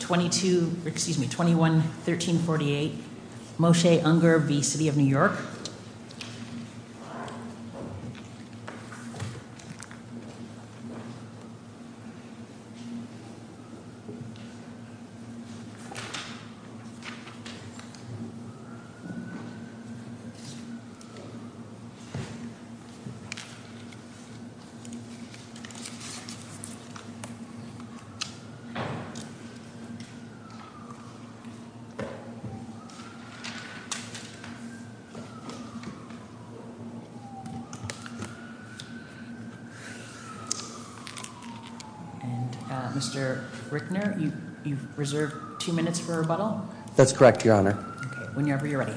21-1348 Moshe Unger v. City of New York. And Mr. Rickner, you've reserved two minutes for rebuttal? That's correct, Your Honor. Okay, whenever you're ready.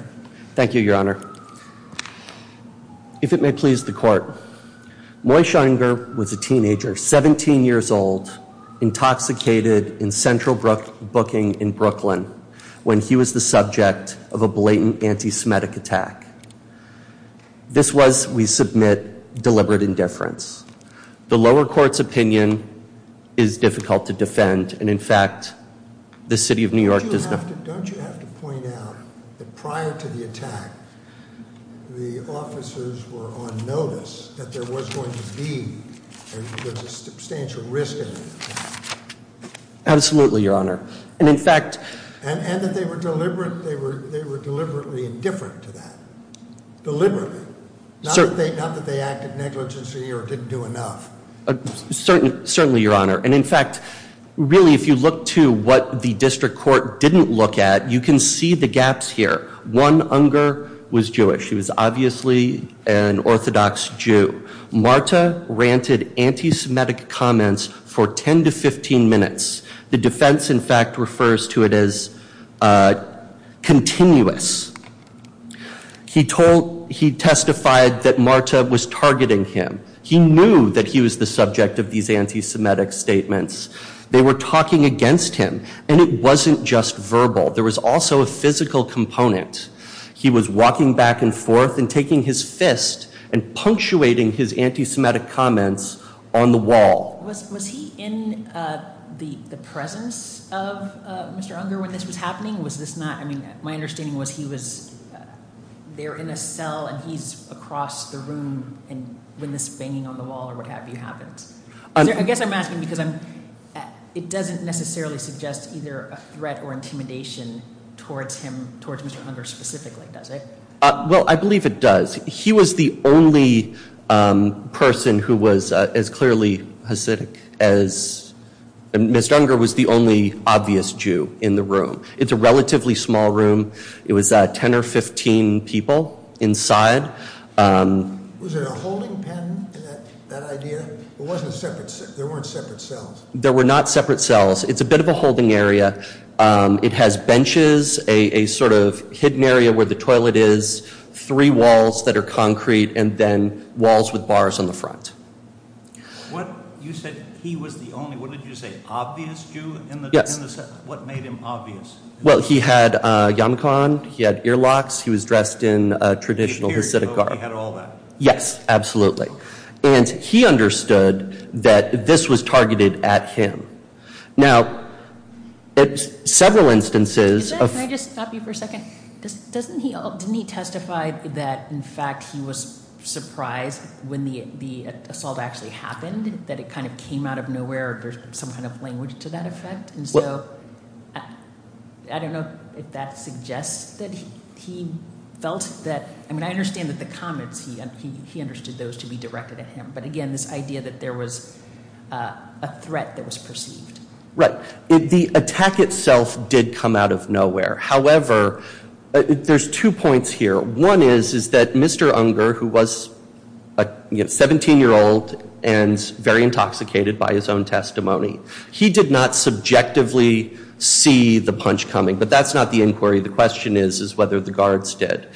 Thank you, Your Honor. If it may please the court, Moshe Unger was a teenager, 17 years old, intoxicated in Central in Brooklyn when he was the subject of a blatant anti-Semitic attack. This was, we submit, deliberate indifference. The lower court's opinion is difficult to defend, and in fact, the City of New York does not... Don't you have to point out that prior to the attack, the officers were on notice that there was going to be a substantial risk in the attack? Absolutely, Your Honor. And in fact... And that they were deliberate, they were deliberately indifferent to that. Deliberately. Not that they acted negligently or didn't do enough. Certainly, Your Honor. And in fact, really, if you look to what the district court didn't look at, you can see the gaps here. One Unger was Jewish. He was obviously an Orthodox Jew. Marta ranted anti-Semitic comments for 10 to 15 minutes. The defense, in fact, refers to it as continuous. He testified that Marta was targeting him. He knew that he was the subject of these anti-Semitic statements. They were talking against him, and it wasn't just verbal. There was also a physical component. He was walking back and forth and taking his fist and punctuating his anti-Semitic comments on the wall. Was he in the presence of Mr. Unger when this was happening? Was this not... I mean, my understanding was he was there in a cell and he's across the room when this banging on the wall or what have you happened. I guess I'm asking because it doesn't necessarily suggest either a threat or intimidation towards him, towards Mr. Unger specifically, does it? Well, I believe it does. He was the only person who was as clearly Hasidic as... Mr. Unger was the only obvious Jew in the room. It's a relatively small room. It was 10 or 15 people inside. Was there a holding pen in that idea? There weren't separate cells. There were not separate cells. It's a bit of a holding area. It has benches, a sort of hidden area where the toilet is, three walls that are concrete, and then walls with bars on the front. You said he was the only... What did you say? Obvious Jew? Yes. What made him obvious? Well, he had a yarmulke on. He had earlocks. He was dressed in a traditional Hasidic garb. He had all that? Yes, absolutely. And he understood that this was targeted at him. Now, several instances... Can I just stop you for a second? Didn't he testify that, in fact, he was surprised when the assault actually happened, that it kind of came out of nowhere or there's some kind of language to that effect? And so I don't know if that suggests that he felt that... I mean, I understand that the comments, he understood those to be directed at him. But, again, this idea that there was a threat that was perceived. Right. The attack itself did come out of nowhere. However, there's two points here. One is that Mr. Unger, who was a 17-year-old and very intoxicated by his own testimony, he did not subjectively see the punch coming. But that's not the inquiry. The question is whether the guards did.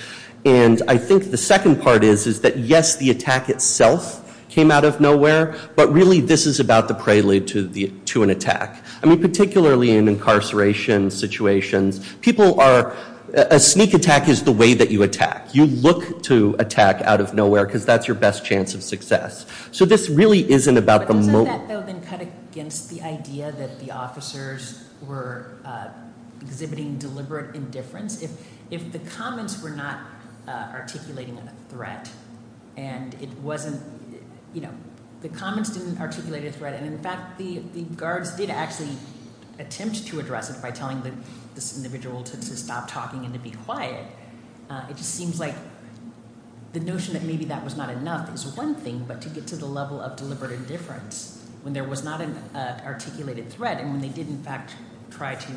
And I think the second part is that, yes, the attack itself came out of nowhere. But, really, this is about the prelude to an attack. I mean, particularly in incarceration situations, people are... A sneak attack is the way that you attack. You look to attack out of nowhere because that's your best chance of success. So this really isn't about the moment. Doesn't that, though, then cut against the idea that the officers were exhibiting deliberate indifference? If the comments were not articulating a threat and it wasn't, you know, the comments didn't articulate a threat and, in fact, the guards did actually attempt to address it by telling this individual to stop talking and to be quiet, it just seems like the notion that maybe that was not enough is one thing, but to get to the level of deliberate indifference when there was not an articulated threat and when they did, in fact, try to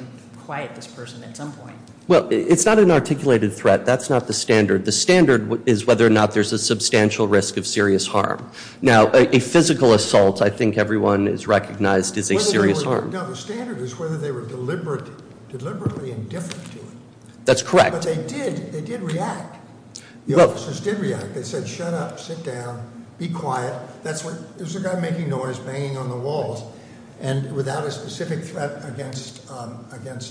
quiet this person at some point. Well, it's not an articulated threat. That's not the standard. The standard is whether or not there's a substantial risk of serious harm. Now, a physical assault, I think everyone has recognized, is a serious harm. No, the standard is whether they were deliberately indifferent to it. That's correct. But they did react. The officers did react. They said, shut up, sit down, be quiet. That's what... It was a guy making noise, banging on the walls, and without a specific threat against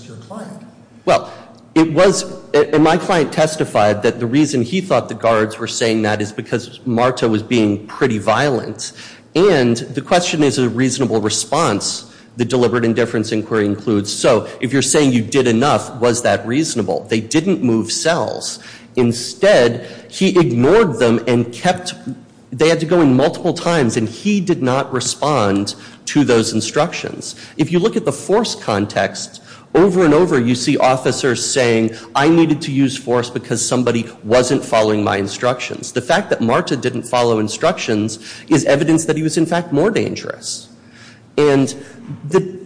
your client. Well, it was... And my client testified that the reason he thought the guards were saying that is because Marta was being pretty violent. And the question is a reasonable response, the deliberate indifference inquiry includes. So, if you're saying you did enough, was that reasonable? They didn't move cells. Instead, he ignored them and kept... They had to go in multiple times, and he did not respond to those instructions. If you look at the force context, over and over you see officers saying, I needed to use force because somebody wasn't following my instructions. The fact that Marta didn't follow instructions is evidence that he was, in fact, more dangerous. And the...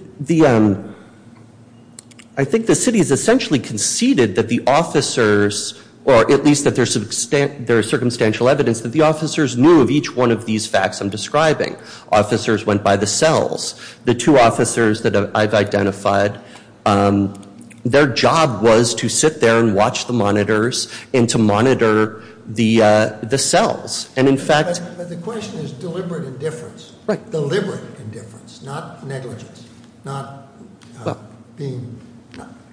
I think the city has essentially conceded that the officers, or at least that there's circumstantial evidence that the officers knew of each one of these facts I'm describing. Officers went by the cells. The two officers that I've identified, their job was to sit there and watch the monitors and to monitor the cells. And, in fact... But the question is deliberate indifference. Right. Deliberate indifference, not negligence, not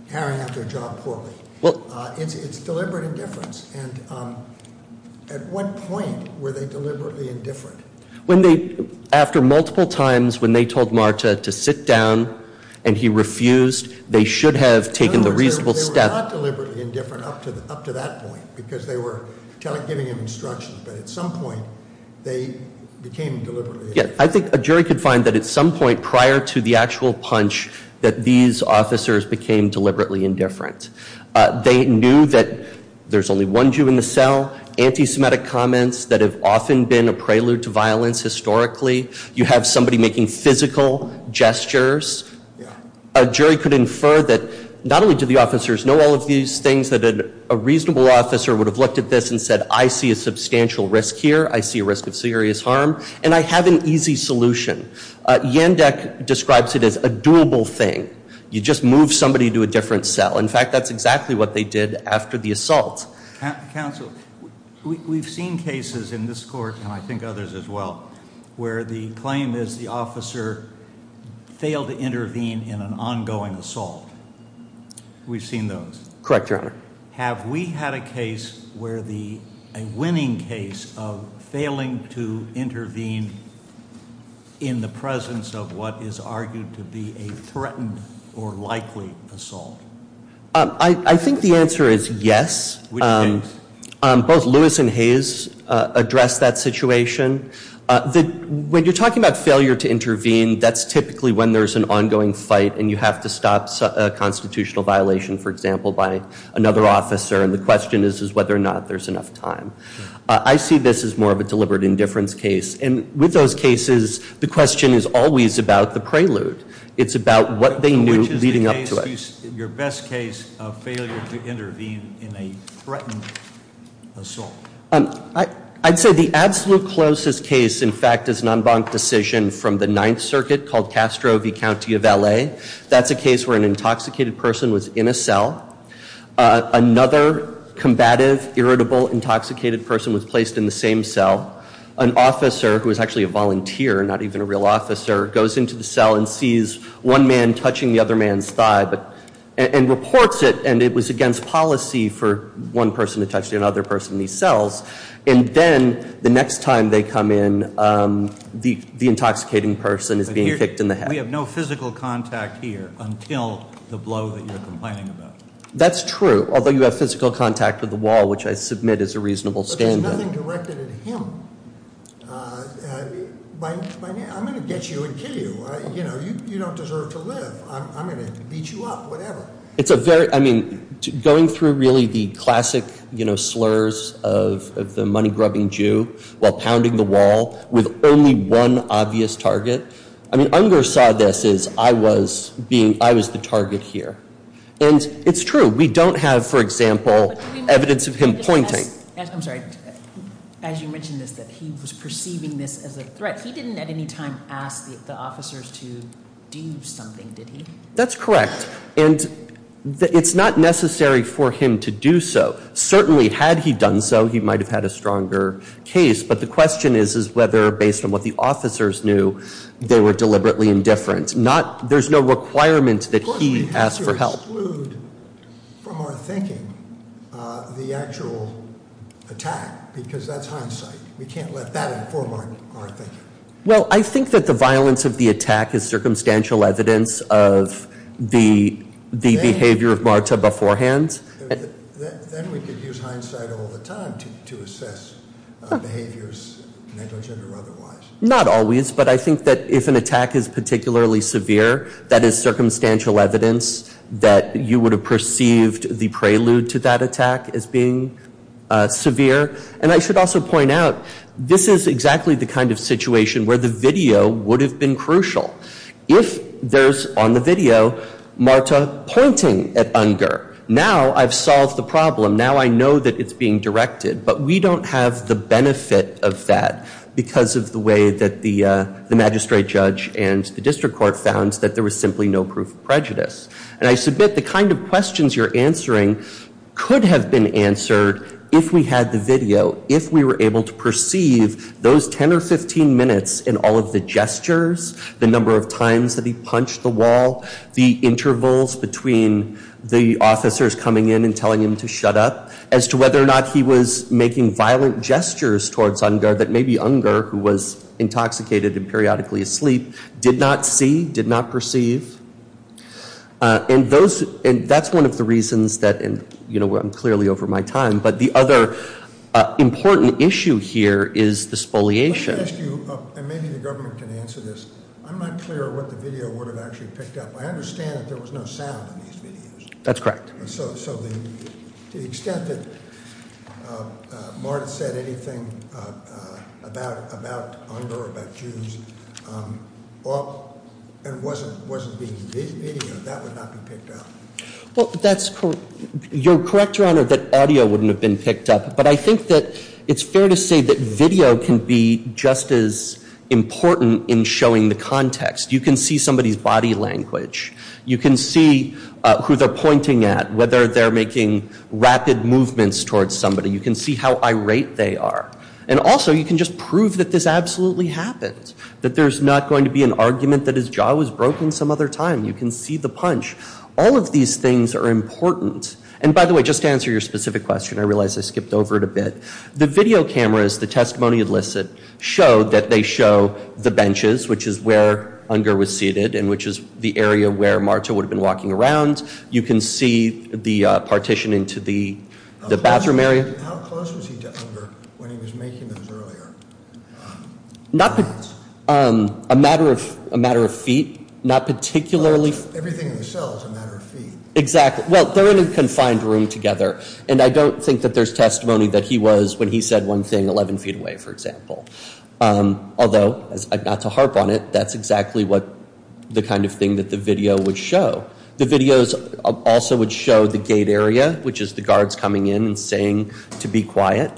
carrying out their job poorly. Well... It's deliberate indifference. And at what point were they deliberately indifferent? When they... After multiple times when they told Marta to sit down, and he refused, they should have taken the reasonable step... In other words, they were not deliberately indifferent up to that point, because they were giving him instructions. But at some point, they became deliberately... Yeah. I think a jury could find that at some point prior to the actual punch that these officers became deliberately indifferent. They knew that there's only one Jew in the cell. Anti-Semitic comments that have often been a prelude to violence historically. You have somebody making physical gestures. Yeah. A jury could infer that not only do the officers know all of these things, that a reasonable officer would have looked at this and said, I see a substantial risk here. I see a risk of serious harm. And I have an easy solution. Yandek describes it as a doable thing. You just move somebody to a different cell. In fact, that's exactly what they did after the assault. Counsel, we've seen cases in this court, and I think others as well, where the claim is the officer failed to intervene in an ongoing assault. We've seen those. Correct, Your Honor. Have we had a case where the winning case of failing to intervene in the presence of what is argued to be a threatened or likely assault? I think the answer is yes. Both Lewis and Hayes addressed that situation. When you're talking about failure to intervene, that's typically when there's an ongoing fight and you have to stop a constitutional violation, for example, by another officer. And the question is whether or not there's enough time. I see this as more of a deliberate indifference case. And with those cases, the question is always about the prelude. It's about what they knew leading up to it. Which is your best case of failure to intervene in a threatened assault? I'd say the absolute closest case, in fact, is an en banc decision from the Ninth Circuit called Castro v. County of L.A. That's a case where an intoxicated person was in a cell. Another combative, irritable, intoxicated person was placed in the same cell. An officer, who was actually a volunteer, not even a real officer, goes into the cell and sees one man touching the other man's thigh and reports it. And it was against policy for one person to touch the other person in these cells. And then the next time they come in, the intoxicating person is being kicked in the head. We have no physical contact here until the blow that you're complaining about. That's true, although you have physical contact with the wall, which I submit is a reasonable standard. But there's nothing directed at him. I'm going to get you and kill you. You don't deserve to live. I'm going to beat you up, whatever. It's a very, I mean, going through really the classic slurs of the money-grubbing Jew while pounding the wall with only one obvious target. I mean, Unger saw this as I was the target here. And it's true. We don't have, for example, evidence of him pointing. I'm sorry, as you mentioned this, that he was perceiving this as a threat. He didn't at any time ask the officers to do something, did he? That's correct. And it's not necessary for him to do so. Certainly, had he done so, he might have had a stronger case. But the question is whether, based on what the officers knew, they were deliberately indifferent. There's no requirement that he ask for help. We can't exclude from our thinking the actual attack because that's hindsight. We can't let that inform our thinking. Well, I think that the violence of the attack is circumstantial evidence of the behavior of Marta beforehand. Then we could use hindsight all the time to assess behaviors negligent or otherwise. Not always, but I think that if an attack is particularly severe, that is circumstantial evidence that you would have perceived the prelude to that attack as being severe. And I should also point out, this is exactly the kind of situation where the video would have been crucial. If there's, on the video, Marta pointing at Unger, now I've solved the problem. Now I know that it's being directed. But we don't have the benefit of that because of the way that the magistrate judge and the district court found that there was simply no proof of prejudice. And I submit the kind of questions you're answering could have been answered if we had the video, if we were able to perceive those 10 or 15 minutes in all of the gestures, the number of times that he punched the wall, the intervals between the officers coming in and telling him to shut up, as to whether or not he was making violent gestures towards Unger that maybe Unger, who was intoxicated and periodically asleep, did not see, did not perceive. And that's one of the reasons that, you know, I'm clearly over my time, but the other important issue here is the spoliation. Let me ask you, and maybe the government can answer this, I'm not clear what the video would have actually picked up. I understand that there was no sound in these videos. That's correct. So to the extent that Marta said anything about Unger or about Jews and wasn't being videoed, that would not be picked up. Well, that's correct. You're correct, Your Honor, that audio wouldn't have been picked up. But I think that it's fair to say that video can be just as important in showing the context. You can see somebody's body language. You can see who they're pointing at, whether they're making rapid movements towards somebody. You can see how irate they are. And also, you can just prove that this absolutely happened, that there's not going to be an argument that his jaw was broken some other time. You can see the punch. All of these things are important. And by the way, just to answer your specific question, I realize I skipped over it a bit, the video cameras, the testimony elicit, show that they show the benches, which is where Unger was seated, and which is the area where Marta would have been walking around. You can see the partition into the bathroom area. How close was he to Unger when he was making those earlier? A matter of feet, not particularly. Everything in the cell is a matter of feet. Exactly. Well, they're in a confined room together. And I don't think that there's testimony that he was, when he said one thing, 11 feet away, for example. Although, not to harp on it, that's exactly what the kind of thing that the video would show. The videos also would show the gate area, which is the guards coming in and saying to be quiet.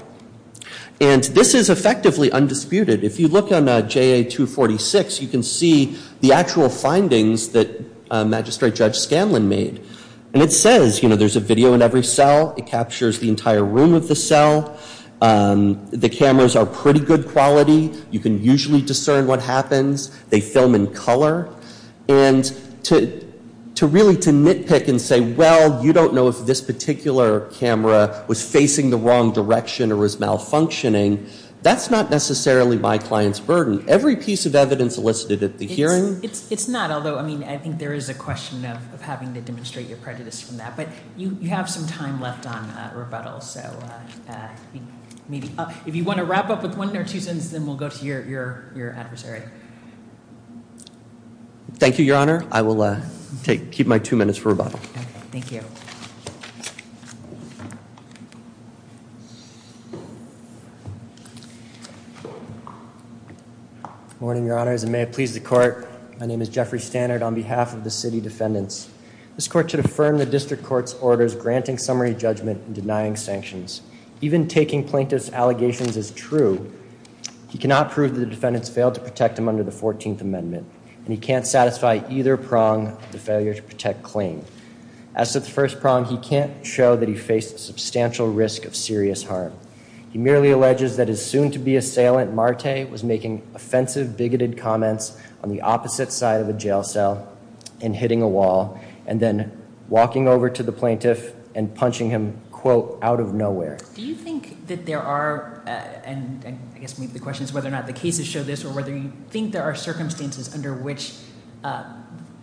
And this is effectively undisputed. If you look on JA-246, you can see the actual findings that Magistrate Judge Scanlon made. And it says, you know, there's a video in every cell. It captures the entire room of the cell. The cameras are pretty good quality. You can usually discern what happens. They film in color. And to really to nitpick and say, well, you don't know if this particular camera was facing the wrong direction or was malfunctioning, that's not necessarily my client's burden. Every piece of evidence elicited at the hearing. It's not. Although, I mean, I think there is a question of having to demonstrate your prejudice from that. But you have some time left on rebuttal. So if you want to wrap up with one or two sentences, then we'll go to your adversary. Thank you, Your Honor. I will keep my two minutes for rebuttal. Thank you. Good morning, Your Honors, and may it please the Court. My name is Jeffrey Stannard on behalf of the City Defendants. This Court should affirm the District Court's orders granting summary judgment and denying sanctions. Even taking plaintiff's allegations as true, he cannot prove the defendants failed to protect him under the 14th Amendment. And he can't satisfy either prong of the failure to protect claim. As to the first prong, he can't show that he faced substantial risk of serious harm. He merely alleges that his soon-to-be assailant, Marte, was making offensive, bigoted comments on the opposite side of a jail cell and hitting a wall and then walking over to the plaintiff and punching him, quote, out of nowhere. Do you think that there are, and I guess the question is whether or not the cases show this, or whether you think there are circumstances under which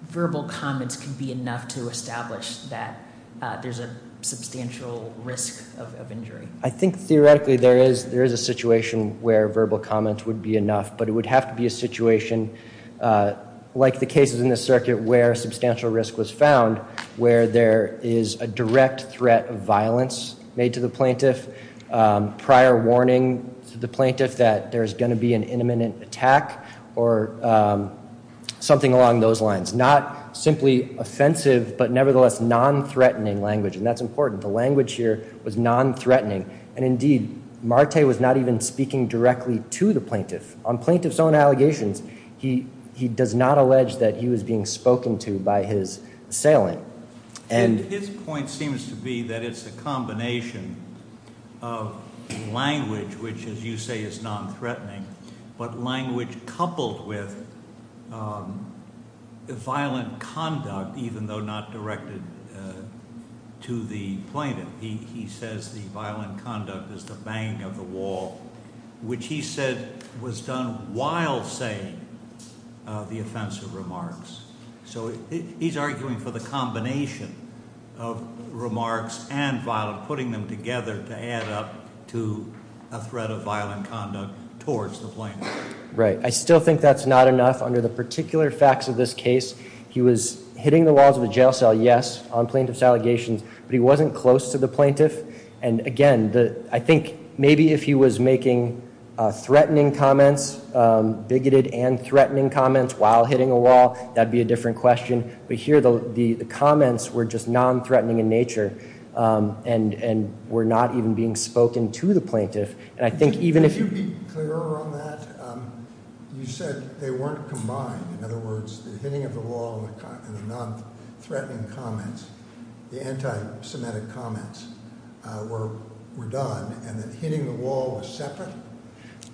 verbal comments can be enough to establish that there's a substantial risk of injury? I think theoretically there is a situation where verbal comments would be enough, but it would have to be a situation like the cases in this circuit where substantial risk was found, where there is a direct threat of violence made to the plaintiff, prior warning to the plaintiff that there's going to be an imminent attack, or something along those lines. Not simply offensive, but nevertheless non-threatening language. And that's important. The language here was non-threatening. And indeed, Marte was not even speaking directly to the plaintiff. On plaintiff's own allegations, he does not allege that he was being spoken to by his assailant. His point seems to be that it's a combination of language, which as you say is non-threatening, but language coupled with violent conduct, even though not directed to the plaintiff. He says the violent conduct is the bang of the wall, which he said was done while saying the offensive remarks. So he's arguing for the combination of remarks and violent, putting them together to add up to a threat of violent conduct towards the plaintiff. Right. I still think that's not enough. Under the particular facts of this case, he was hitting the walls of a jail cell, yes, on plaintiff's allegations, but he wasn't close to the plaintiff. And again, I think maybe if he was making threatening comments, bigoted and threatening comments while hitting a wall, that would be a different question. But here the comments were just non-threatening in nature and were not even being spoken to the plaintiff. Could you be clearer on that? You said they weren't combined. In other words, the hitting of the wall and the non-threatening comments, the anti-Semitic comments were done and that hitting the wall was separate?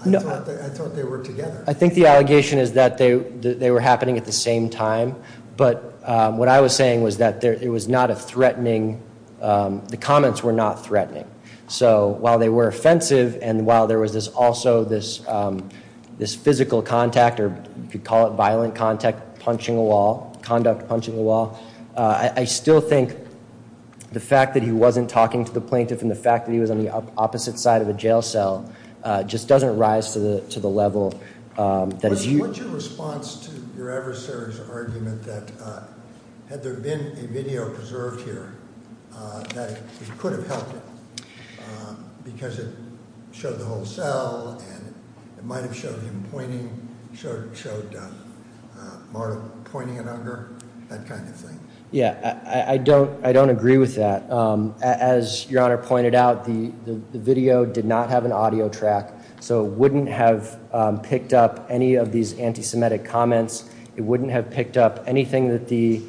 No. I thought they were together. I think the allegation is that they were happening at the same time. But what I was saying was that it was not a threatening, the comments were not threatening. So while they were offensive and while there was also this physical contact, or you could call it violent contact, punching a wall, conduct punching a wall, I still think the fact that he wasn't talking to the plaintiff and the fact that he was on the opposite side of a jail cell just doesn't rise to the level that is used. What was your response to your adversary's argument that had there been a video preserved here, that it could have helped him because it showed the whole cell and it might have showed him pointing, showed Marta pointing it under, that kind of thing? Yeah, I don't agree with that. As Your Honor pointed out, the video did not have an audio track, so it wouldn't have picked up any of these anti-Semitic comments. It wouldn't have picked up anything that the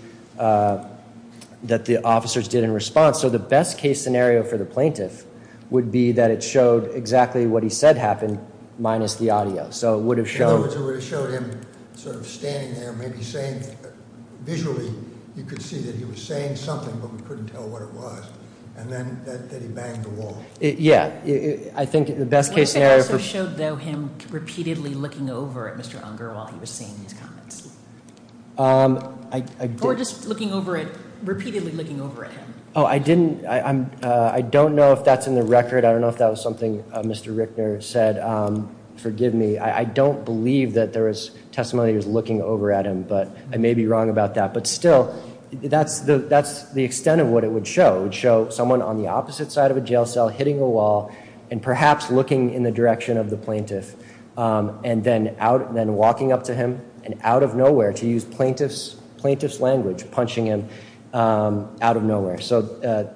officers did in response. So the best case scenario for the plaintiff would be that it showed exactly what he said happened minus the audio. So it would have showed- In other words, it would have showed him sort of standing there, maybe saying, visually you could see that he was saying something but we couldn't tell what it was, and then that he banged the wall. Yeah, I think the best case scenario- What if it also showed, though, him repeatedly looking over at Mr. Unger while he was saying these comments? Or just repeatedly looking over at him? Oh, I don't know if that's in the record. I don't know if that was something Mr. Rickner said. Forgive me. I don't believe that there was testimony that he was looking over at him, but I may be wrong about that. But still, that's the extent of what it would show. It would show someone on the opposite side of a jail cell hitting a wall and perhaps looking in the direction of the plaintiff, and then walking up to him and out of nowhere, to use plaintiff's language, punching him out of nowhere. So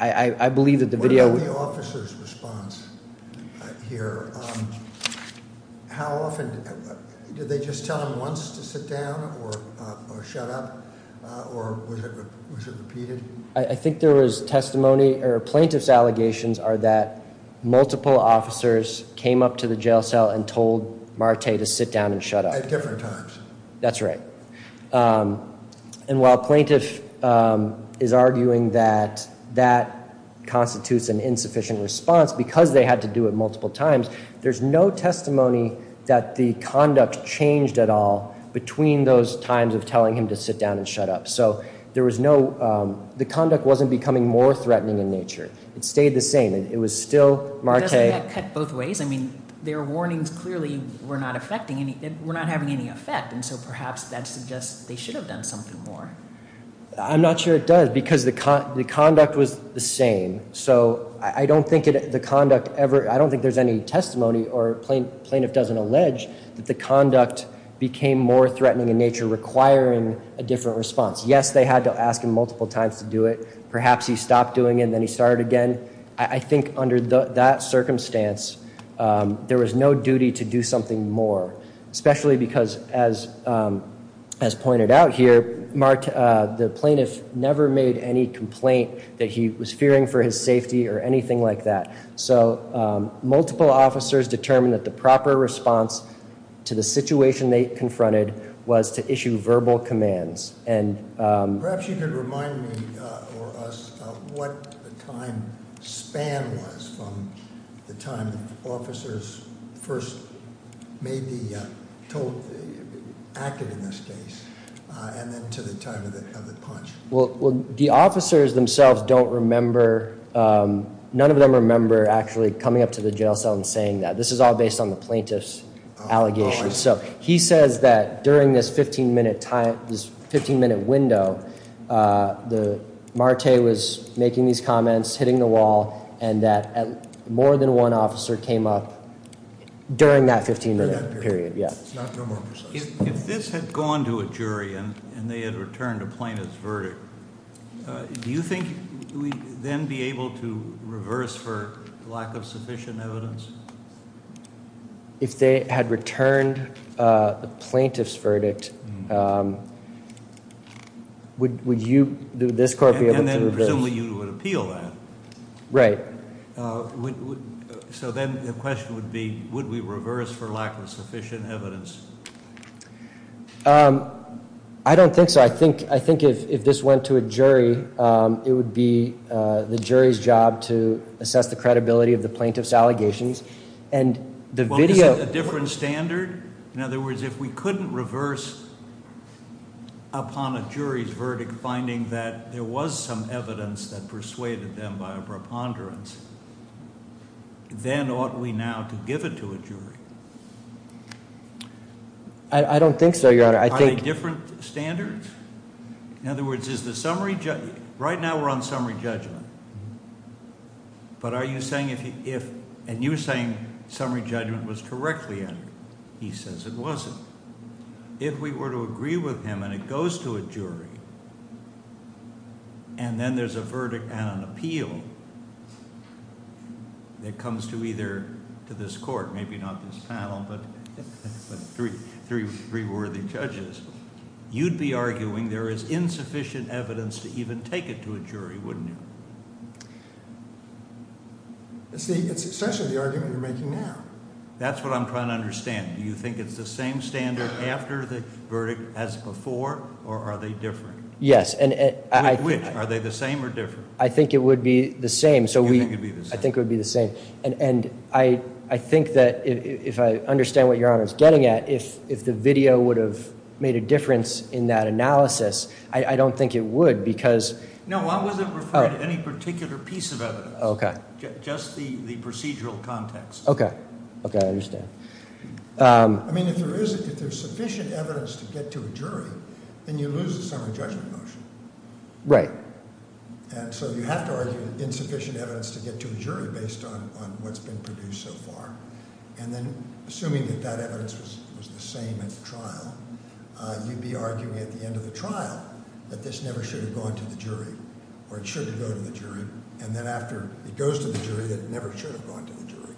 I believe that the video- What about the officer's response here? How often- did they just tell him once to sit down or shut up? Or was it repeated? I think there was testimony- or plaintiff's allegations are that multiple officers came up to the jail cell and told Marte to sit down and shut up. At different times. That's right. And while plaintiff is arguing that that constitutes an insufficient response because they had to do it multiple times, there's no testimony that the conduct changed at all between those times of telling him to sit down and shut up. So there was no- the conduct wasn't becoming more threatening in nature. It stayed the same. It was still Marte- Doesn't that cut both ways? I mean, their warnings clearly were not affecting any- were not having any effect. And so perhaps that suggests they should have done something more. I'm not sure it does because the conduct was the same. So I don't think the conduct ever- I don't think there's any testimony or plaintiff doesn't allege that the conduct became more threatening in nature, requiring a different response. Yes, they had to ask him multiple times to do it. Perhaps he stopped doing it and then he started again. I think under that circumstance, there was no duty to do something more. Especially because, as pointed out here, Marte- the plaintiff never made any complaint that he was fearing for his safety or anything like that. So multiple officers determined that the proper response to the situation they confronted was to issue verbal commands. And- Perhaps you could remind me or us of what the time span was from the time the officers first maybe told- acted in this case, and then to the time of the punch. Well, the officers themselves don't remember- none of them remember actually coming up to the jail cell and saying that. This is all based on the plaintiff's allegations. So he says that during this 15-minute window, Marte was making these comments, hitting the wall, and that more than one officer came up during that 15-minute period. If this had gone to a jury and they had returned a plaintiff's verdict, do you think we'd then be able to reverse for lack of sufficient evidence? If they had returned the plaintiff's verdict, would you- would this court be able to- And then presumably you would appeal that. Right. So then the question would be, would we reverse for lack of sufficient evidence? I don't think so. I think if this went to a jury, it would be the jury's job to assess the credibility of the plaintiff's allegations. And the video- Well, is it a different standard? In other words, if we couldn't reverse upon a jury's verdict, finding that there was some evidence that persuaded them by a preponderance, then ought we now to give it to a jury? I don't think so, Your Honor. I think- Are they different standards? In other words, is the summary- right now we're on summary judgment, but are you saying if- and you're saying summary judgment was correctly entered. He says it wasn't. If we were to agree with him and it goes to a jury, and then there's a verdict and an appeal that comes to either- to this court, maybe not this panel, but three worthy judges, you'd be arguing there is insufficient evidence to even take it to a jury, wouldn't you? It's essentially the argument you're making now. That's what I'm trying to understand. Do you think it's the same standard after the verdict as before, or are they different? Yes, and- Which? Are they the same or different? I think it would be the same, so we- You think it would be the same. I think it would be the same, and I think that if I understand what Your Honor is getting at, if the video would have made a difference in that analysis, I don't think it would because- No, I wasn't referring to any particular piece of evidence. Okay. Just the procedural context. Okay. Okay, I understand. I mean, if there is- if there's sufficient evidence to get to a jury, then you lose the summary judgment motion. Right. And so you have to argue insufficient evidence to get to a jury based on what's been produced so far, and then assuming that that evidence was the same at the trial, you'd be arguing at the end of the trial that this never should have gone to the jury, or it should have gone to the jury, and then after it goes to the jury that it never should have gone to the jury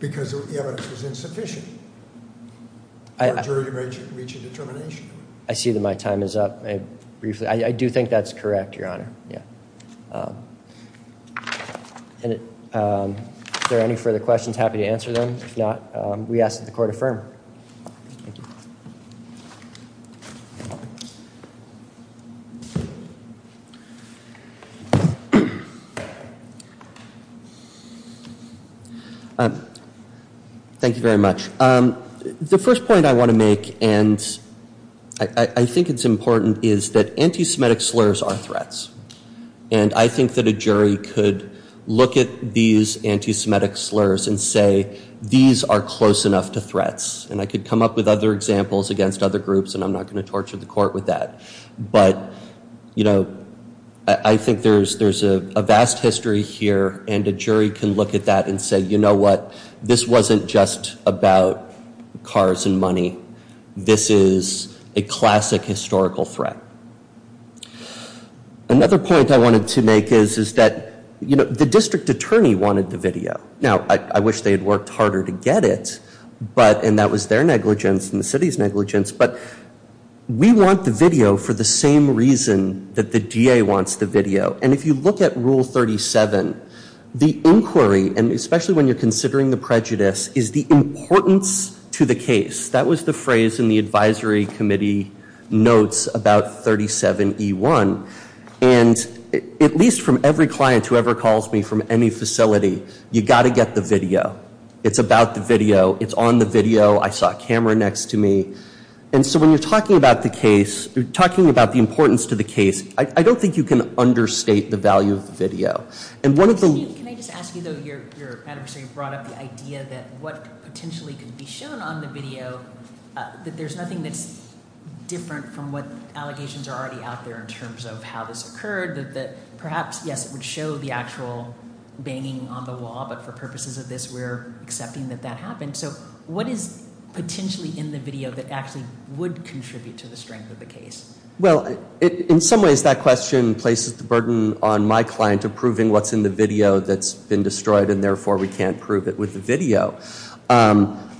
because the evidence was insufficient for a jury to reach a determination. I see that my time is up briefly. I do think that's correct, Your Honor. Yeah. If there are any further questions, happy to answer them. If not, we ask that the court affirm. Thank you. Thank you very much. The first point I want to make, and I think it's important, is that anti-Semitic slurs are threats. And I think that a jury could look at these anti-Semitic slurs and say, these are close enough to threats. And I could come up with other examples against other groups, and I'm not going to torture the court with that. But, you know, I think there's a vast history here, and a jury can look at that and say, you know what? This wasn't just about cars and money. This is a classic historical threat. Another point I wanted to make is that, you know, the district attorney wanted the video. Now, I wish they had worked harder to get it, and that was their negligence and the city's negligence. But we want the video for the same reason that the DA wants the video. And if you look at Rule 37, the inquiry, and especially when you're considering the prejudice, is the importance to the case. That was the phrase in the advisory committee notes about 37E1. And at least from every client who ever calls me from any facility, you've got to get the video. It's about the video. It's on the video. I saw a camera next to me. And so when you're talking about the case, you're talking about the importance to the case. I don't think you can understate the value of the video. And one of the— Steve, can I just ask you, though, your advisory brought up the idea that what potentially could be shown on the video, that there's nothing that's different from what allegations are already out there in terms of how this occurred, that perhaps, yes, it would show the actual banging on the wall, but for purposes of this, we're accepting that that happened. So what is potentially in the video that actually would contribute to the strength of the case? Well, in some ways, that question places the burden on my client approving what's in the video that's been destroyed, and therefore we can't prove it with the video.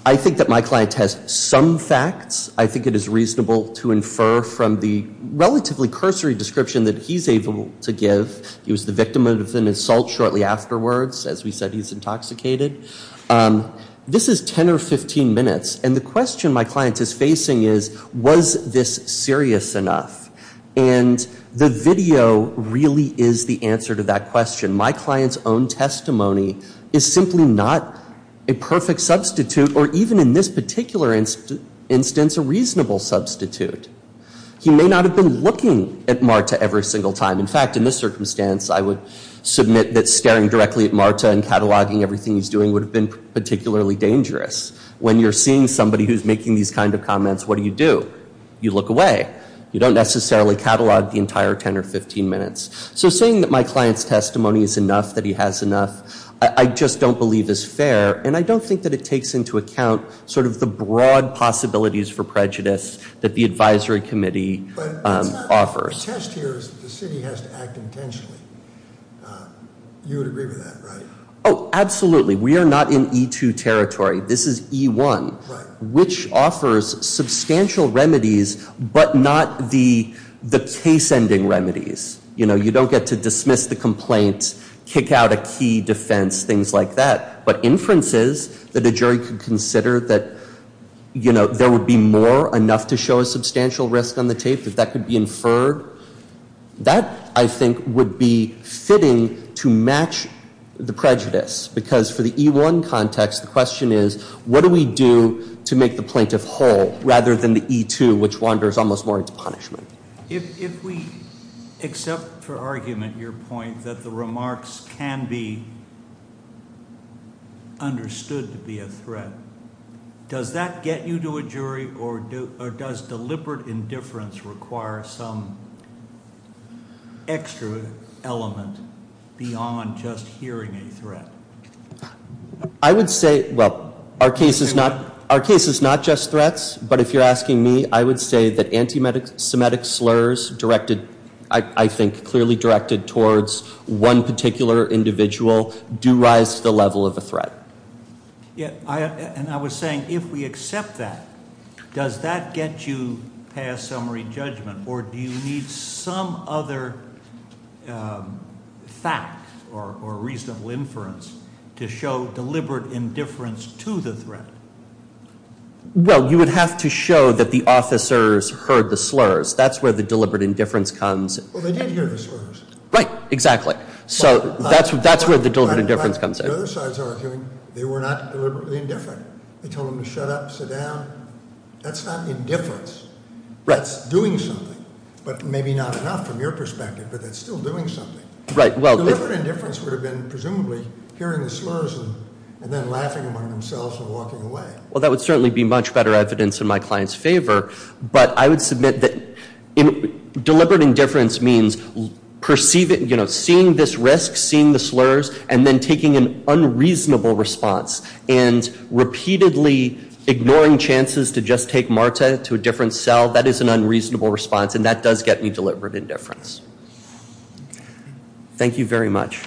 I think that my client has some facts. I think it is reasonable to infer from the relatively cursory description that he's able to give. He was the victim of an assault shortly afterwards. As we said, he's intoxicated. This is 10 or 15 minutes, and the question my client is facing is, was this serious enough? And the video really is the answer to that question. My client's own testimony is simply not a perfect substitute, or even in this particular instance, a reasonable substitute. He may not have been looking at Marta every single time. In fact, in this circumstance, I would submit that staring directly at Marta and cataloging everything he's doing would have been particularly dangerous. When you're seeing somebody who's making these kind of comments, what do you do? You look away. You don't necessarily catalog the entire 10 or 15 minutes. So saying that my client's testimony is enough, that he has enough, I just don't believe is fair, and I don't think that it takes into account sort of the broad possibilities for prejudice that the advisory committee offers. The test here is that the city has to act intentionally. You would agree with that, right? Oh, absolutely. We are not in E2 territory. This is E1, which offers substantial remedies but not the case-ending remedies. You know, you don't get to dismiss the complaint, kick out a key defense, things like that, but inferences that a jury could consider that, you know, there would be more, enough to show a substantial risk on the tape, that that could be inferred, that, I think, would be fitting to match the prejudice, because for the E1 context, the question is, what do we do to make the plaintiff whole, rather than the E2, which wanders almost more into punishment? If we accept for argument your point that the remarks can be understood to be a threat, does that get you to a jury, or does deliberate indifference require some extra element beyond just hearing a threat? I would say, well, our case is not just threats, but if you're asking me, I would say that anti-Semitic slurs directed, I think, clearly directed towards one particular individual do rise to the level of a threat. And I was saying, if we accept that, does that get you past summary judgment, or do you need some other fact or reasonable inference to show deliberate indifference to the threat? Well, you would have to show that the officers heard the slurs. That's where the deliberate indifference comes. Well, they did hear the slurs. Right, exactly. So that's where the deliberate indifference comes in. The other side's arguing they were not deliberately indifferent. They told them to shut up, sit down. That's not indifference. That's doing something, but maybe not enough from your perspective, but that's still doing something. Deliberate indifference would have been, presumably, hearing the slurs and then laughing among themselves and walking away. Well, that would certainly be much better evidence in my client's favor, but I would submit that deliberate indifference means seeing this risk, seeing the slurs, and then taking an unreasonable response and repeatedly ignoring chances to just take Marta to a different cell. That is an unreasonable response, and that does get me deliberate indifference. Thank you very much. Thank you.